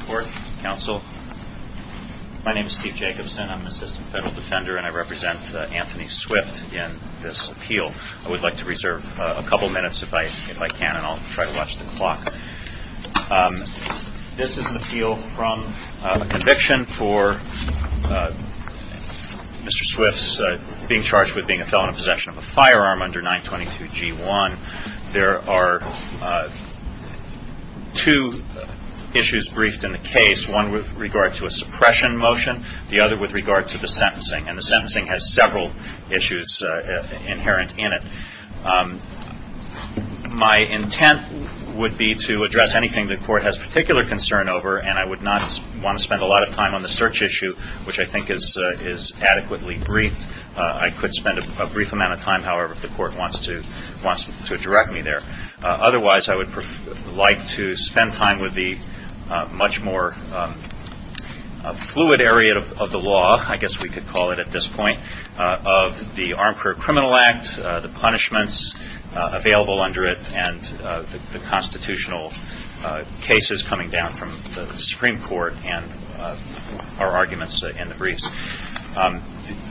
Court, Counsel, my name is Steve Jacobson I'm an assistant federal defender and I represent Anthony Swift in this appeal. I would like to reserve a couple minutes if I if I can and I'll try to watch the clock. This is an appeal from a conviction for Mr. Swift's being charged with being a felon in possession of a firearm under 922 G1. There are two issues briefed in the case one with regard to a suppression motion the other with regard to the sentencing and the sentencing has several issues inherent in it. My intent would be to address anything the court has particular concern over and I would not want to spend a lot of time on the search issue which I think is is adequately briefed. I could spend a brief amount of time however if the court wants to wants to direct me there. Otherwise I would like to spend time with the much more fluid area of the law I guess we could call it at this point of the Armed Career Criminal Act the punishments available under it and the constitutional cases coming down from the Supreme Court and our arguments in the briefs.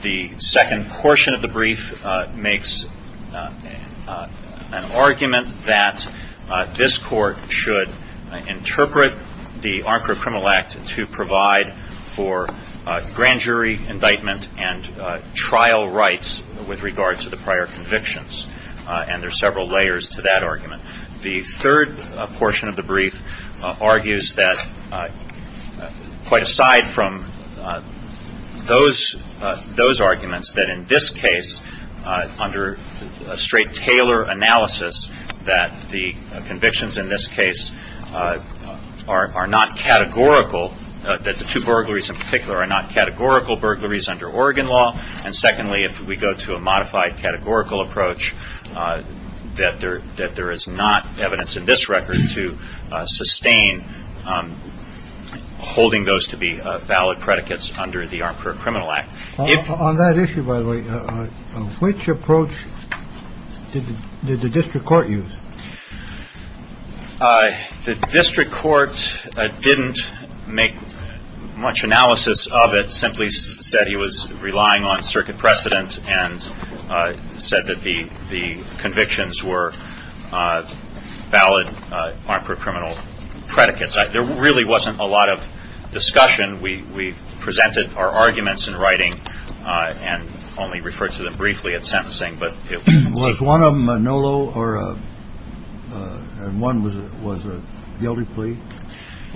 The second portion of the brief makes an argument that this court should interpret the Armed Career Criminal Act to provide for grand jury indictment and trial rights with regard to the prior convictions and there are several layers to that argument. The third portion of the brief argues that quite aside from those those arguments that in this case under a straight Taylor analysis that the convictions in this case are not categorical that the two burglaries in particular are not categorical burglaries under Oregon law and secondly if we go to a modified categorical approach that there that there is not evidence in this record to sustain holding those to be valid predicates under the Armed Career Criminal Act. On that issue by the way which approach did the district court use? The district court didn't make much analysis of it simply said he was relying on circuit precedent and said that the the convictions were valid Armed Career Criminal predicates. There really wasn't a lot of discussion we presented our arguments in writing and only referred to them briefly at sentencing but it was one of them a NOLO or one was it was a guilty plea?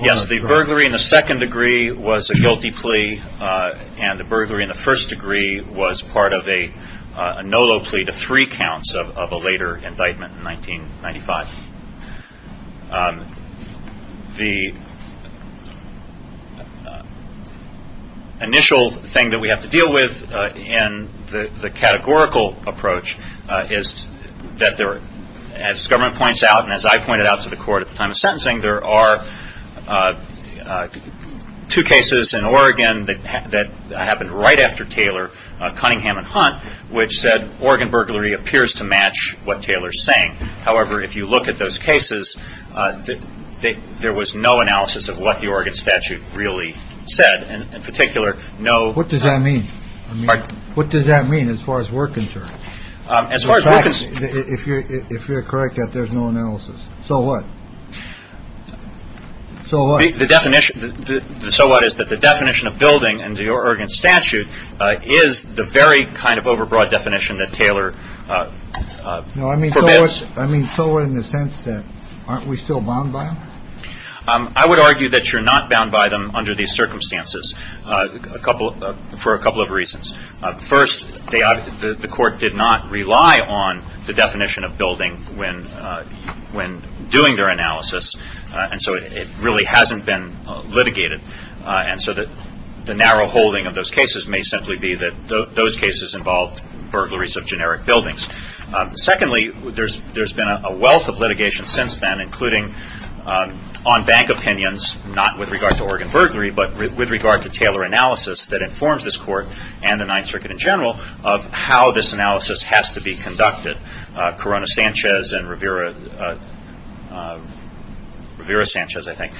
Yes the burglary in the second degree was a guilty plea and the burglary in the first degree was part of a NOLO plea to three counts of a later indictment in 1995. The initial thing that we have to deal with in the the categorical approach is that there as government points out and as I pointed out to the court at the time of sentencing there are two cases in Oregon that happened right after Taylor Cunningham and Hunt which said Oregon burglary appears to match what Taylor's saying however if you look at those cases that there was no analysis of what the Oregon statute really said in particular no what does that mean what does that mean as far as we're concerned as far as if you're if you're correct that there's no analysis so what so what the definition so what is that the definition of building and the Oregon statute is the very kind of overbroad definition that Taylor I mean I mean so in the sense that aren't we still bound by I would argue that you're not bound by them under these circumstances a couple for a couple of reasons first they are the court did not rely on the definition of building when when doing their analysis and so it really hasn't been litigated and so that the narrow holding of those cases may simply be that those cases involved burglaries of generic buildings secondly there's there's been a wealth of litigation since then including on bank opinions not with regard to Oregon burglary but with regard to Taylor analysis that informs this court and the Ninth Circuit in general of how this analysis has to be conducted Corona Sanchez and Rivera Rivera Sanchez I think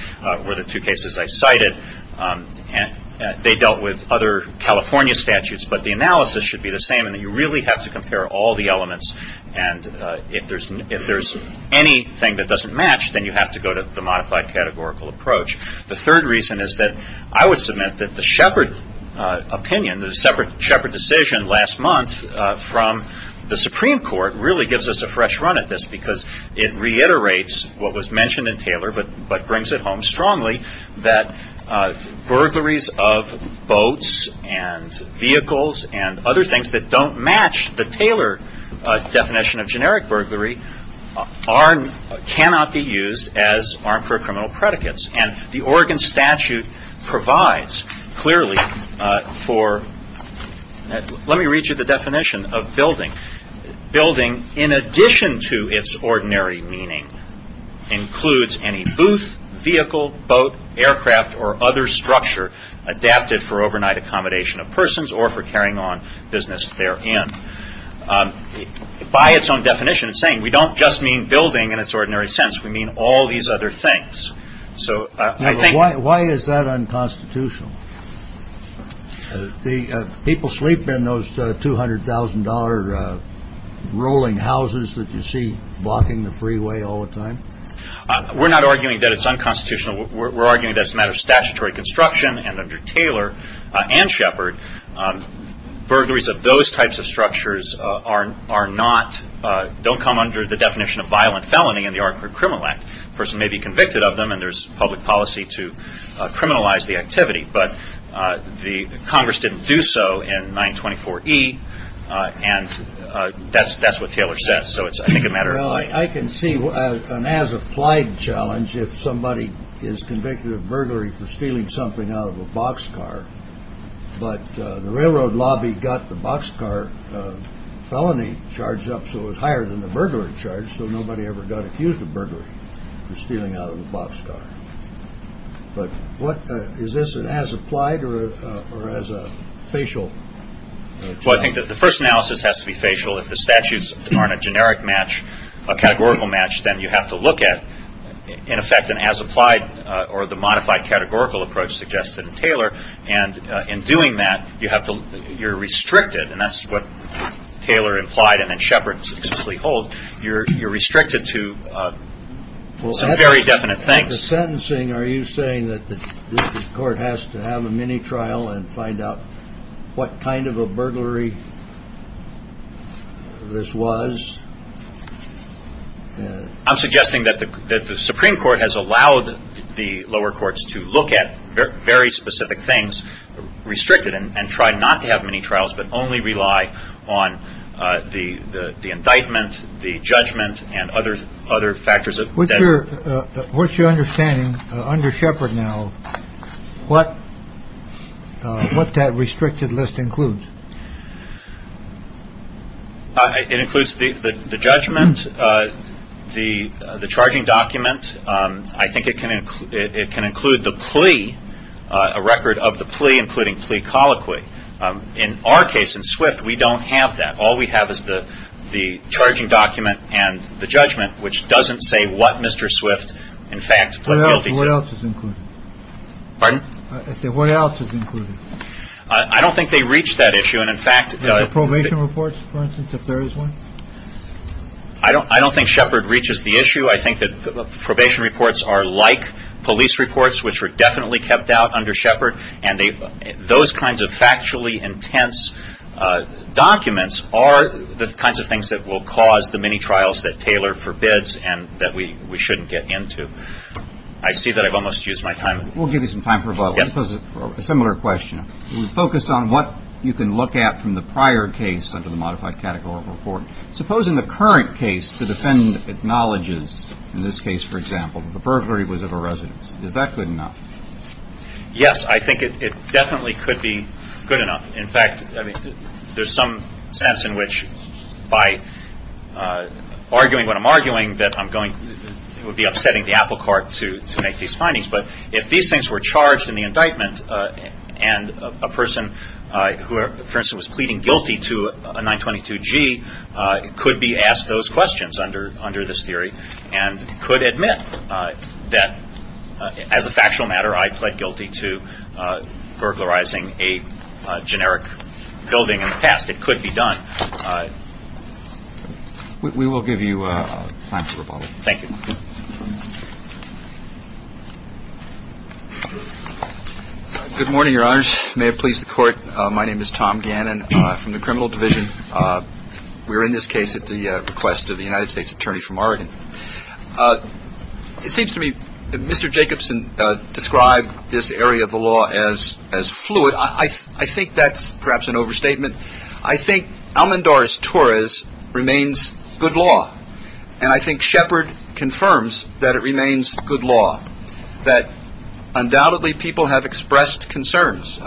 were the two cases I cited and they dealt with other California statutes but the analysis should be the same and that you really have to compare all the elements and if there's if anything that doesn't match then you have to go to the modified categorical approach the third reason is that I would submit that the shepherd opinion the separate shepherd decision last month from the Supreme Court really gives us a fresh run at this because it reiterates what was mentioned in Taylor but but brings it home strongly that burglaries of boats and vehicles and other things that don't match the Taylor definition of generic burglary are cannot be used as our criminal predicates and the Oregon statute provides clearly for let me read you the definition of building building in addition to its ordinary meaning includes any booth vehicle boat aircraft or other structure adapted for overnight accommodation of persons or for carrying on business there and by its own definition saying we don't just mean building in its ordinary sense we mean all these other things so I think why is that unconstitutional the people sleep in those $200,000 rolling houses that you see blocking the freeway all the time we're not arguing that it's unconstitutional we're arguing that's a matter of statutory construction and Taylor and Shepard burglaries of those types of structures are are not don't come under the definition of violent felony in the art for criminal act person may be convicted of them and there's public policy to criminalize the activity but the Congress didn't do so in 924 e and that's that's what Taylor says so it's I think a matter of I can see what an as applied challenge if somebody is convicted of burglary for stealing something out of a boxcar but the railroad lobby got the boxcar felony charged up so it was higher than the burglar charge so nobody ever got accused of burglary for stealing out of the boxcar but what is this it has applied or as a facial well I think that the first analysis has to be facial if the statutes aren't a generic match a and as applied or the modified categorical approach suggested in Taylor and in doing that you have to you're restricted and that's what Taylor implied and then Shepard successfully hold you're you're restricted to some very definite things sentencing are you saying that the court has to have a mini trial and find out what kind of a burglary this was I'm suggesting that the Supreme Court has allowed the lower courts to look at very specific things restricted and try not to have many trials but only rely on the indictment the judgment and others other factors of what you're what's your understanding under Shepard now what what that restricted list includes it includes the judgment the the charging document I think it can include it can include the plea a record of the plea including plea colloquy in our case in Swift we don't have that all we have is the the charging document and the judgment which doesn't say what mr. Swift in fact what else is included pardon what else is included I don't think they reach that issue and in fact the probation reports I don't I don't think Shepard reaches the issue I think that the probation reports are like police reports which were definitely kept out under Shepard and they those kinds of factually intense documents are the kinds of things that will cause the many trials that Taylor forbids and that we we shouldn't get into I see that I've almost used my time we'll give you some time for about a similar question focused on what you can look at from the modified category report suppose in the current case the defendant acknowledges in this case for example the burglary was of a residence is that good enough yes I think it definitely could be good enough in fact I mean there's some sense in which by arguing what I'm arguing that I'm going it would be upsetting the applecart to make these findings but if these things were charged in the 22 G it could be asked those questions under under this theory and could admit that as a factual matter I pled guilty to burglarizing a generic building in the past it could be done we will give you a thank you good morning your honor may have pleased the court my name is Tom Gannon from the we're in this case at the request of the United States Attorney from Oregon it seems to me mr. Jacobson described this area of the law as as fluid I think that's perhaps an overstatement I think almond or as Torres remains good law and I think Shepard confirms that it remains good law that undoubtedly people have expressed concerns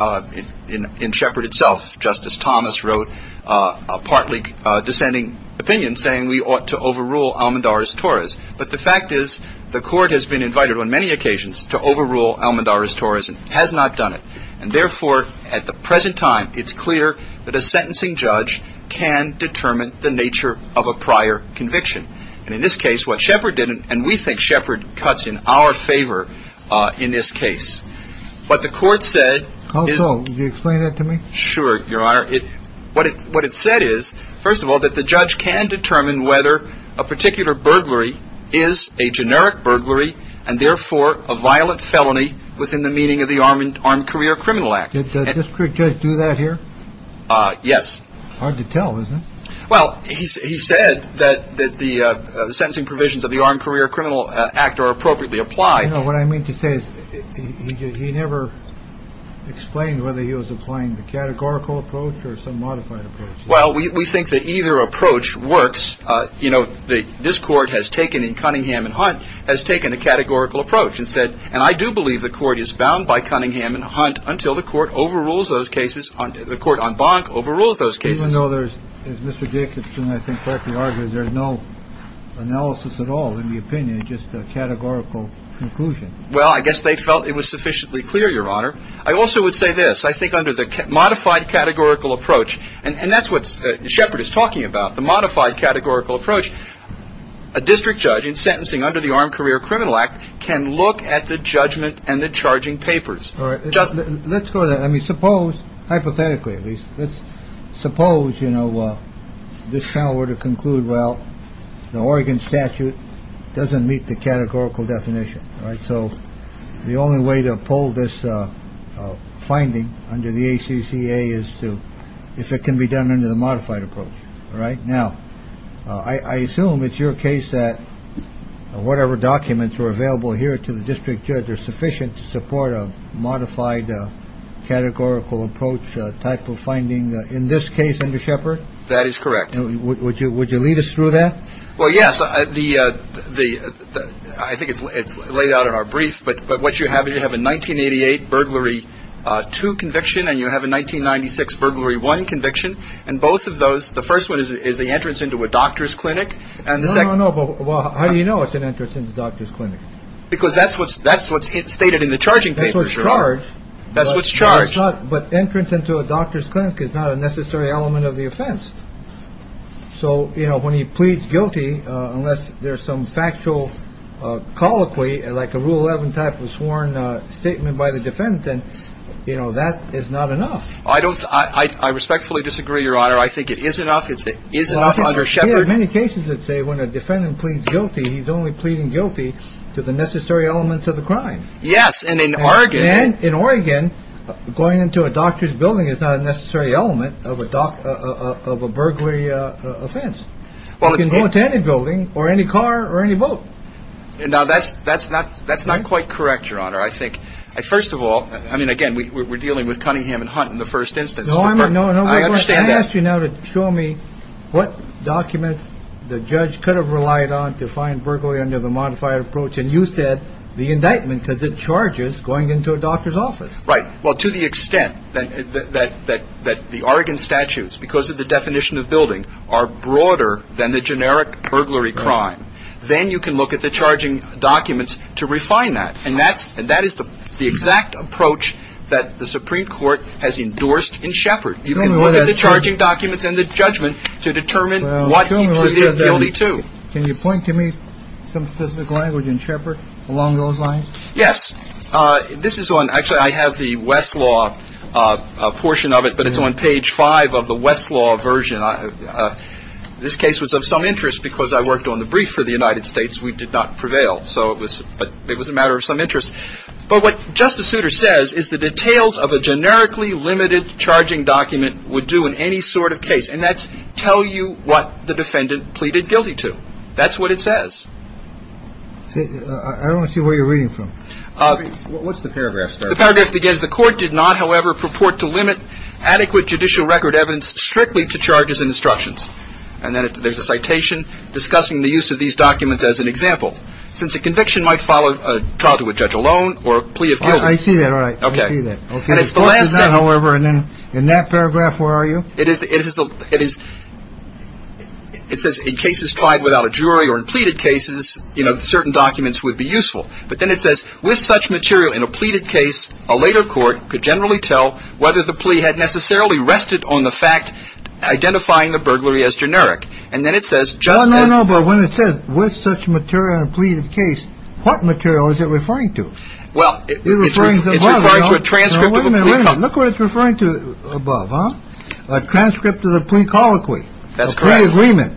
in in Shepard itself justice Thomas wrote a partly dissenting opinion saying we ought to overrule almond or as Torres but the fact is the court has been invited on many occasions to overrule almond or as Torres and has not done it and therefore at the present time it's clear that a sentencing judge can determine the nature of a prior conviction and in this case what Shepard didn't and we think Shepard cuts in our favor in this case but the court said oh no you explain it to me sure your honor it what it what it said is first of all that the judge can determine whether a particular burglary is a generic burglary and therefore a violent felony within the meaning of the arm and armed career criminal act it's a district judge do that here yes hard to tell isn't well he said that that the sentencing provisions of the armed career criminal act are appropriately applied no what I mean to say is he never explained whether he was applying the categorical approach or some modified approach well we think that either approach works you know the this court has taken in Cunningham and hunt has taken a categorical approach and said and I do believe the court is bound by Cunningham and hunt until the court overrules those cases on the court on bonk overrules those cases no there's no analysis at all in the opinion just a categorical conclusion well I guess they felt it was sufficiently clear your honor I also would say this I think under the modified categorical approach and that's what Shepard is talking about the modified categorical approach a district judge in sentencing under the armed career criminal act can look at the judgment and the charging papers hypothetically suppose you know well this power to conclude well the Oregon statute doesn't meet the categorical definition right so the only way to pull this finding under the ACCA is to if it can be done under the modified approach right now I assume it's your case that whatever documents were available here to the district judge are sufficient to support a modified categorical approach type of finding in this case under Shepard that is correct would you would you lead us through that well yes the the I think it's laid out in our brief but but what you have is you have a 1988 burglary to conviction and you have a 1996 burglary one conviction and both of those the first one is the entrance into a doctor's clinic and the second well how do you know it's an entrance in the doctor's clinic because that's what's that's what's it stated in the charging papers charge that's what's charged but entrance into a doctor's clinic is not a necessary element of the offense so you know when he pleads guilty unless there's some factual colloquy like a rule 11 type of sworn statement by the defendant you know that is not enough I don't I respectfully disagree your honor I think it is enough it's it is not under Shepard many cases that say when a defendant pleads guilty he's only pleading guilty to the necessary elements of the crime yes and in Oregon and in Oregon going into a doctor's building is not a necessary element of a dock of a burglary offense well you can go into any building or any car or any boat and now that's that's not that's not quite correct your honor I think I first of all I mean again we were dealing with Cunningham and Hunt in the first instance no I'm no no I understand you now to show me what documents the judge could have relied on to find burglary under the modified approach and you said the indictment because it charges going into a doctor's office right well to the extent that that that that the Oregon statutes because of the definition of building are broader than the generic burglary crime then you can look at the charging documents to refine that and that's and that is the exact approach that the Supreme Court has documents and the judgment to determine what can you point to me along those lines yes this is one actually I have the Westlaw a portion of it but it's on page 5 of the Westlaw version I this case was of some interest because I worked on the brief for the United States we did not prevail so it was but it was a matter of some interest but what Justice Souter says is the details of a generically limited charging document would do in any sort of case and that's tell you what the defendant pleaded guilty to that's what it says I don't see where you're reading from what's the paragraph the paragraph begins the court did not however purport to limit adequate judicial record evidence strictly to charges and instructions and then there's a citation discussing the use of these documents as an example since a conviction might follow a trial to a judge alone or plea of guilt I see that right okay okay it's the last however and then in that paragraph where are you it is it is the it is it says in cases tried without a jury or in pleaded cases you know certain documents would be useful but then it says with such material in a pleaded case a later court could generally tell whether the plea had necessarily rested on the fact identifying the burglary as generic and then it says just no no but when it says with such material and pleaded case what material is it referring to well it's referring to a transcript of a plea look what it's referring to above huh a transcript of the plea colloquy that's great agreement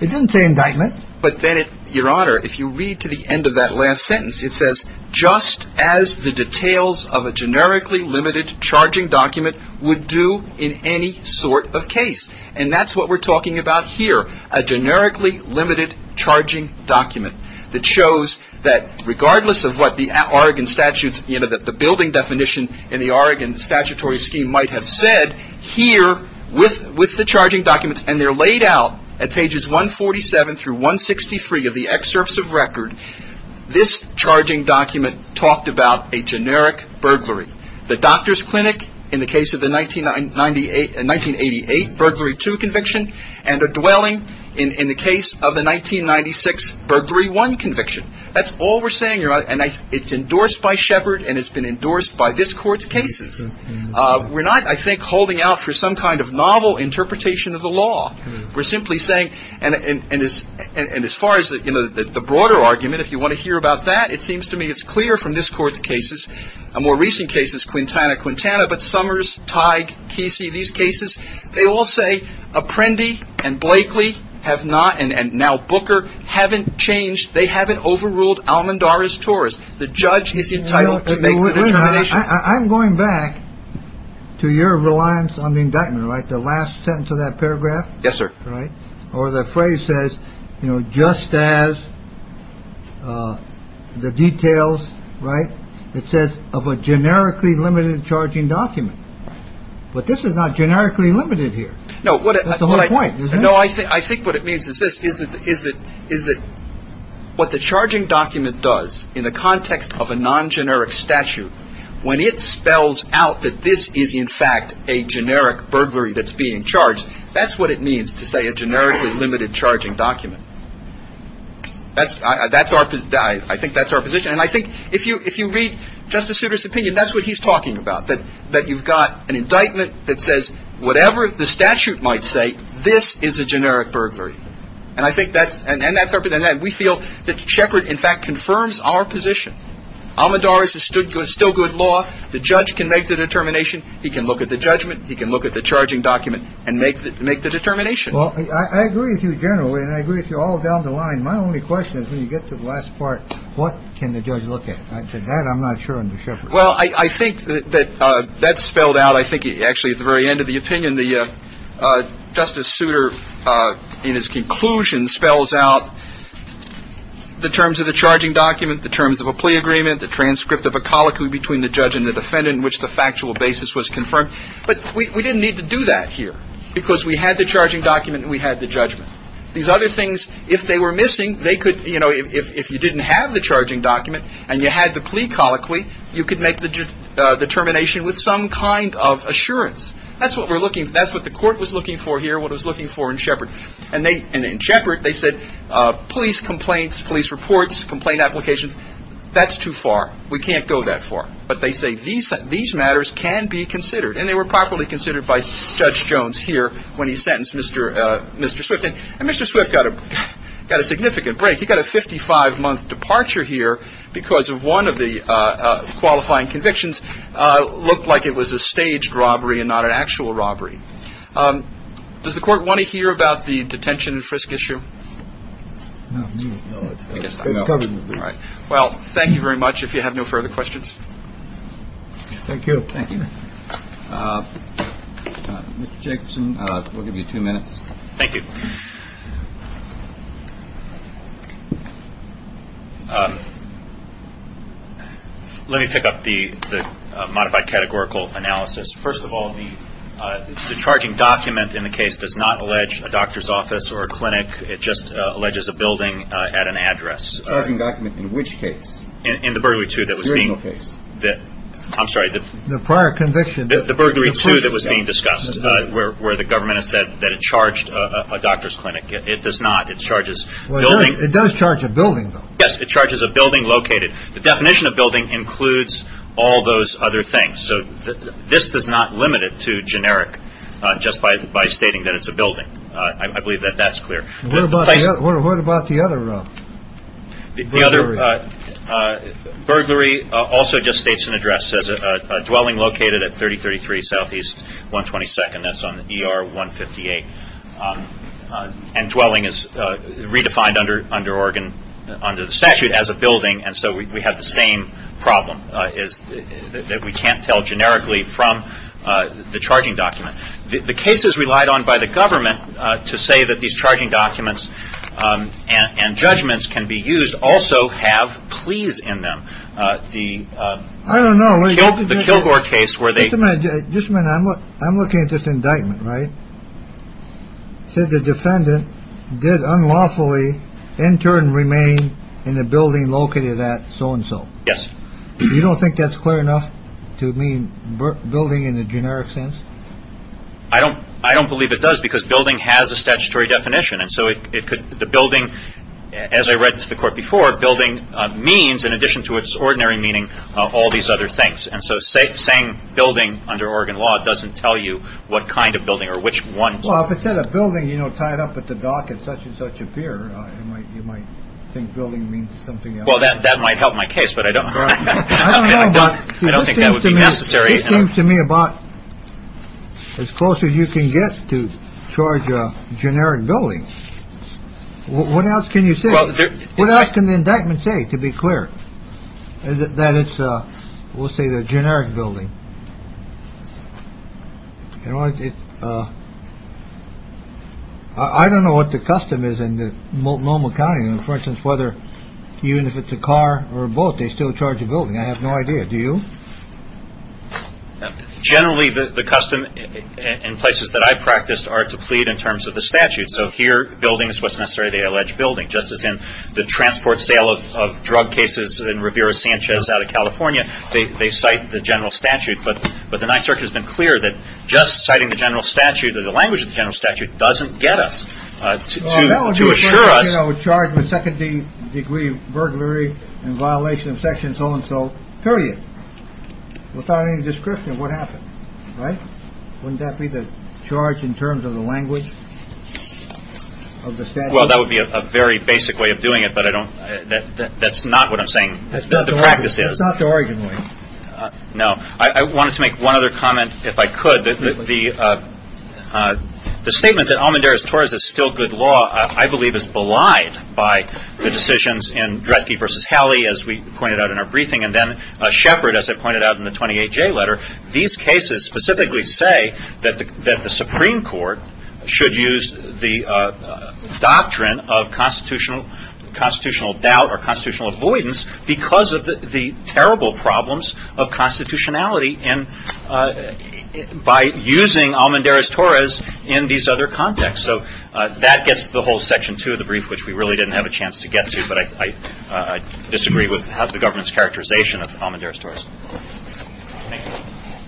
it didn't say indictment but then it your honor if you read to the end of that last sentence it says just as the details of a generically limited charging document would do in any sort of case and that's what we're talking about here a generically limited charging document that shows that regardless of what the Oregon statutes you know that the building definition in the Oregon statutory scheme might have said here with with the charging documents and they're laid out at pages 147 through 163 of the excerpts of record this charging document talked about a generic burglary the doctor's clinic in the case of the 1998 1988 burglary to conviction and a dwelling in in the case of the 1996 burglary one conviction that's all we're saying you're on and I it's endorsed by Sheppard and it's been endorsed by this court's cases we're not I think holding out for some kind of novel interpretation of the law we're simply saying and and as and as far as that you know that the broader argument if you want to hear about that it seems to me it's clear from this court's cases a more recent cases Quintana Quintana but Summers Tige Kesey these cases they all say Apprendi and Blakely have not and and now Booker haven't changed they haven't overruled Almandara's Taurus the judge is entitled I'm going back to your reliance on the indictment right the last sentence of that paragraph yes sir right or the phrase says you know just as the details right it says of a generically limited charging document but this is not generically limited here no what I like no I think I think what it means is this is that is that is that what the charging document does in the context of a non-generic statute when it spells out that this is in fact a generic burglary that's being charged that's what it means to say a generically limited charging document that's that's our I think that's our position and I think if you if you read Justice Souter's opinion that's what he's talking about that that you've got an indictment that says whatever the statute might say this is a generic burglary and I think that's and then that's our but then that we feel that Shepard in fact confirms our position Almandara's is stood good still good law the judge can make the determination he can look at the judgment he can look at the charging document and make that make the determination well I agree with you generally and I agree with you all down the line my only question is when you get to the last part what can the judge look at I said that I'm not sure I'm sure well I think that that's spelled out I think actually at the very end of the opinion the Justice Souter in his conclusion spells out the terms of the charging document the terms of a plea agreement the transcript of a colloquy between the judge and the defendant in which the factual basis was confirmed but we didn't need to do that here because we had the charging document and we had the judgment these other things if they were missing they could you know if you didn't have the charging document and you had the plea colloquy you could make the determination with some kind of assurance that's what we're looking that's what the court was looking for here what was looking for in Shepard and they and in Shepard they said police complaints police reports complaint applications that's too far we can't go that far but they say these these matters can be considered and they were properly considered by Judge Jones here when he sentenced mr. mr. Swift and mr. Swift got a got a significant break he got a 55 month departure here because of one of the qualifying convictions looked like it was a staged robbery and not an actual robbery does the court want to hear about the detention and frisk issue well thank you very much if you have no further questions thank you thank you we'll give you two minutes thank you let me pick up the modified categorical analysis first of all the the charging document in the case does not allege a doctor's office or a clinic it just alleges a building at an address document in which case in the burglary to that was the case that I'm sorry the prior conviction the burglary to that was being discussed where the government has said that it charged a doctor's clinic it does not it charges well it does charge a building yes it charges a building located the definition of building includes all those other things so this does not limit it to generic just by stating that it's a building I also just states an address as a dwelling located at 3033 southeast 122nd that's on er 158 and dwelling is redefined under under Oregon under the statute as a building and so we have the same problem is that we can't tell generically from the charging document the case is relied on by the government to say that these charging documents and judgments can be used also have pleas in them the I don't know the Kilgore case where they just meant I'm what I'm looking at this indictment right said the defendant did unlawfully enter and remain in the building located at so-and-so yes you don't think that's clear enough to mean building in the generic sense I don't I don't believe it does because building has a statutory definition and so it could the building as I read to the court before building means in addition to its ordinary meaning all these other things and so say saying building under Oregon law doesn't tell you what kind of building or which one well if it said a building you know tied up at the dock at such-and-such appear you might think building means something well that that might help my case but I don't I don't think that would be necessary to me about as close as you can get to charge generic building what else can you say what else can the indictment say to be clear that it's we'll say the generic building you know I don't know what the custom is in the Multnomah County and for instance whether even if it's a car or both they still charge a building I have no idea do you generally the custom in places that I practiced are to plead in terms of the statute so here building is what's necessary they allege building just as in the transport sale of drug cases in Rivera Sanchez out of California they cite the general statute but but the Ninth Circuit has been clear that just citing the general statute or the language of the general statute doesn't get us to assure us charge with second-degree burglary and violation of section so-and-so period without any description what happened right wouldn't that be the charge in terms of the language well that would be a very basic way of doing it but I don't that that's not what I'm saying that's not the practice is not the Oregon way no I wanted to make one other comment if I could that the the statement that Almendares Torres is still good law I believe is belied by the decisions in Dretke versus Halley as we pointed out in our briefing and then a shepherd as I 28 J letter these cases specifically say that the Supreme Court should use the doctrine of constitutional constitutional doubt or constitutional avoidance because of the terrible problems of constitutionality and by using Almendares Torres in these other contexts so that gets the whole section to the brief which we really didn't have a chance to get to but I disagree with the government's characterization of Almendares Torres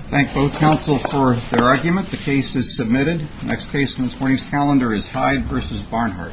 thank both counsel for their argument the case is submitted next case in this morning's calendar is Hyde versus Barnhart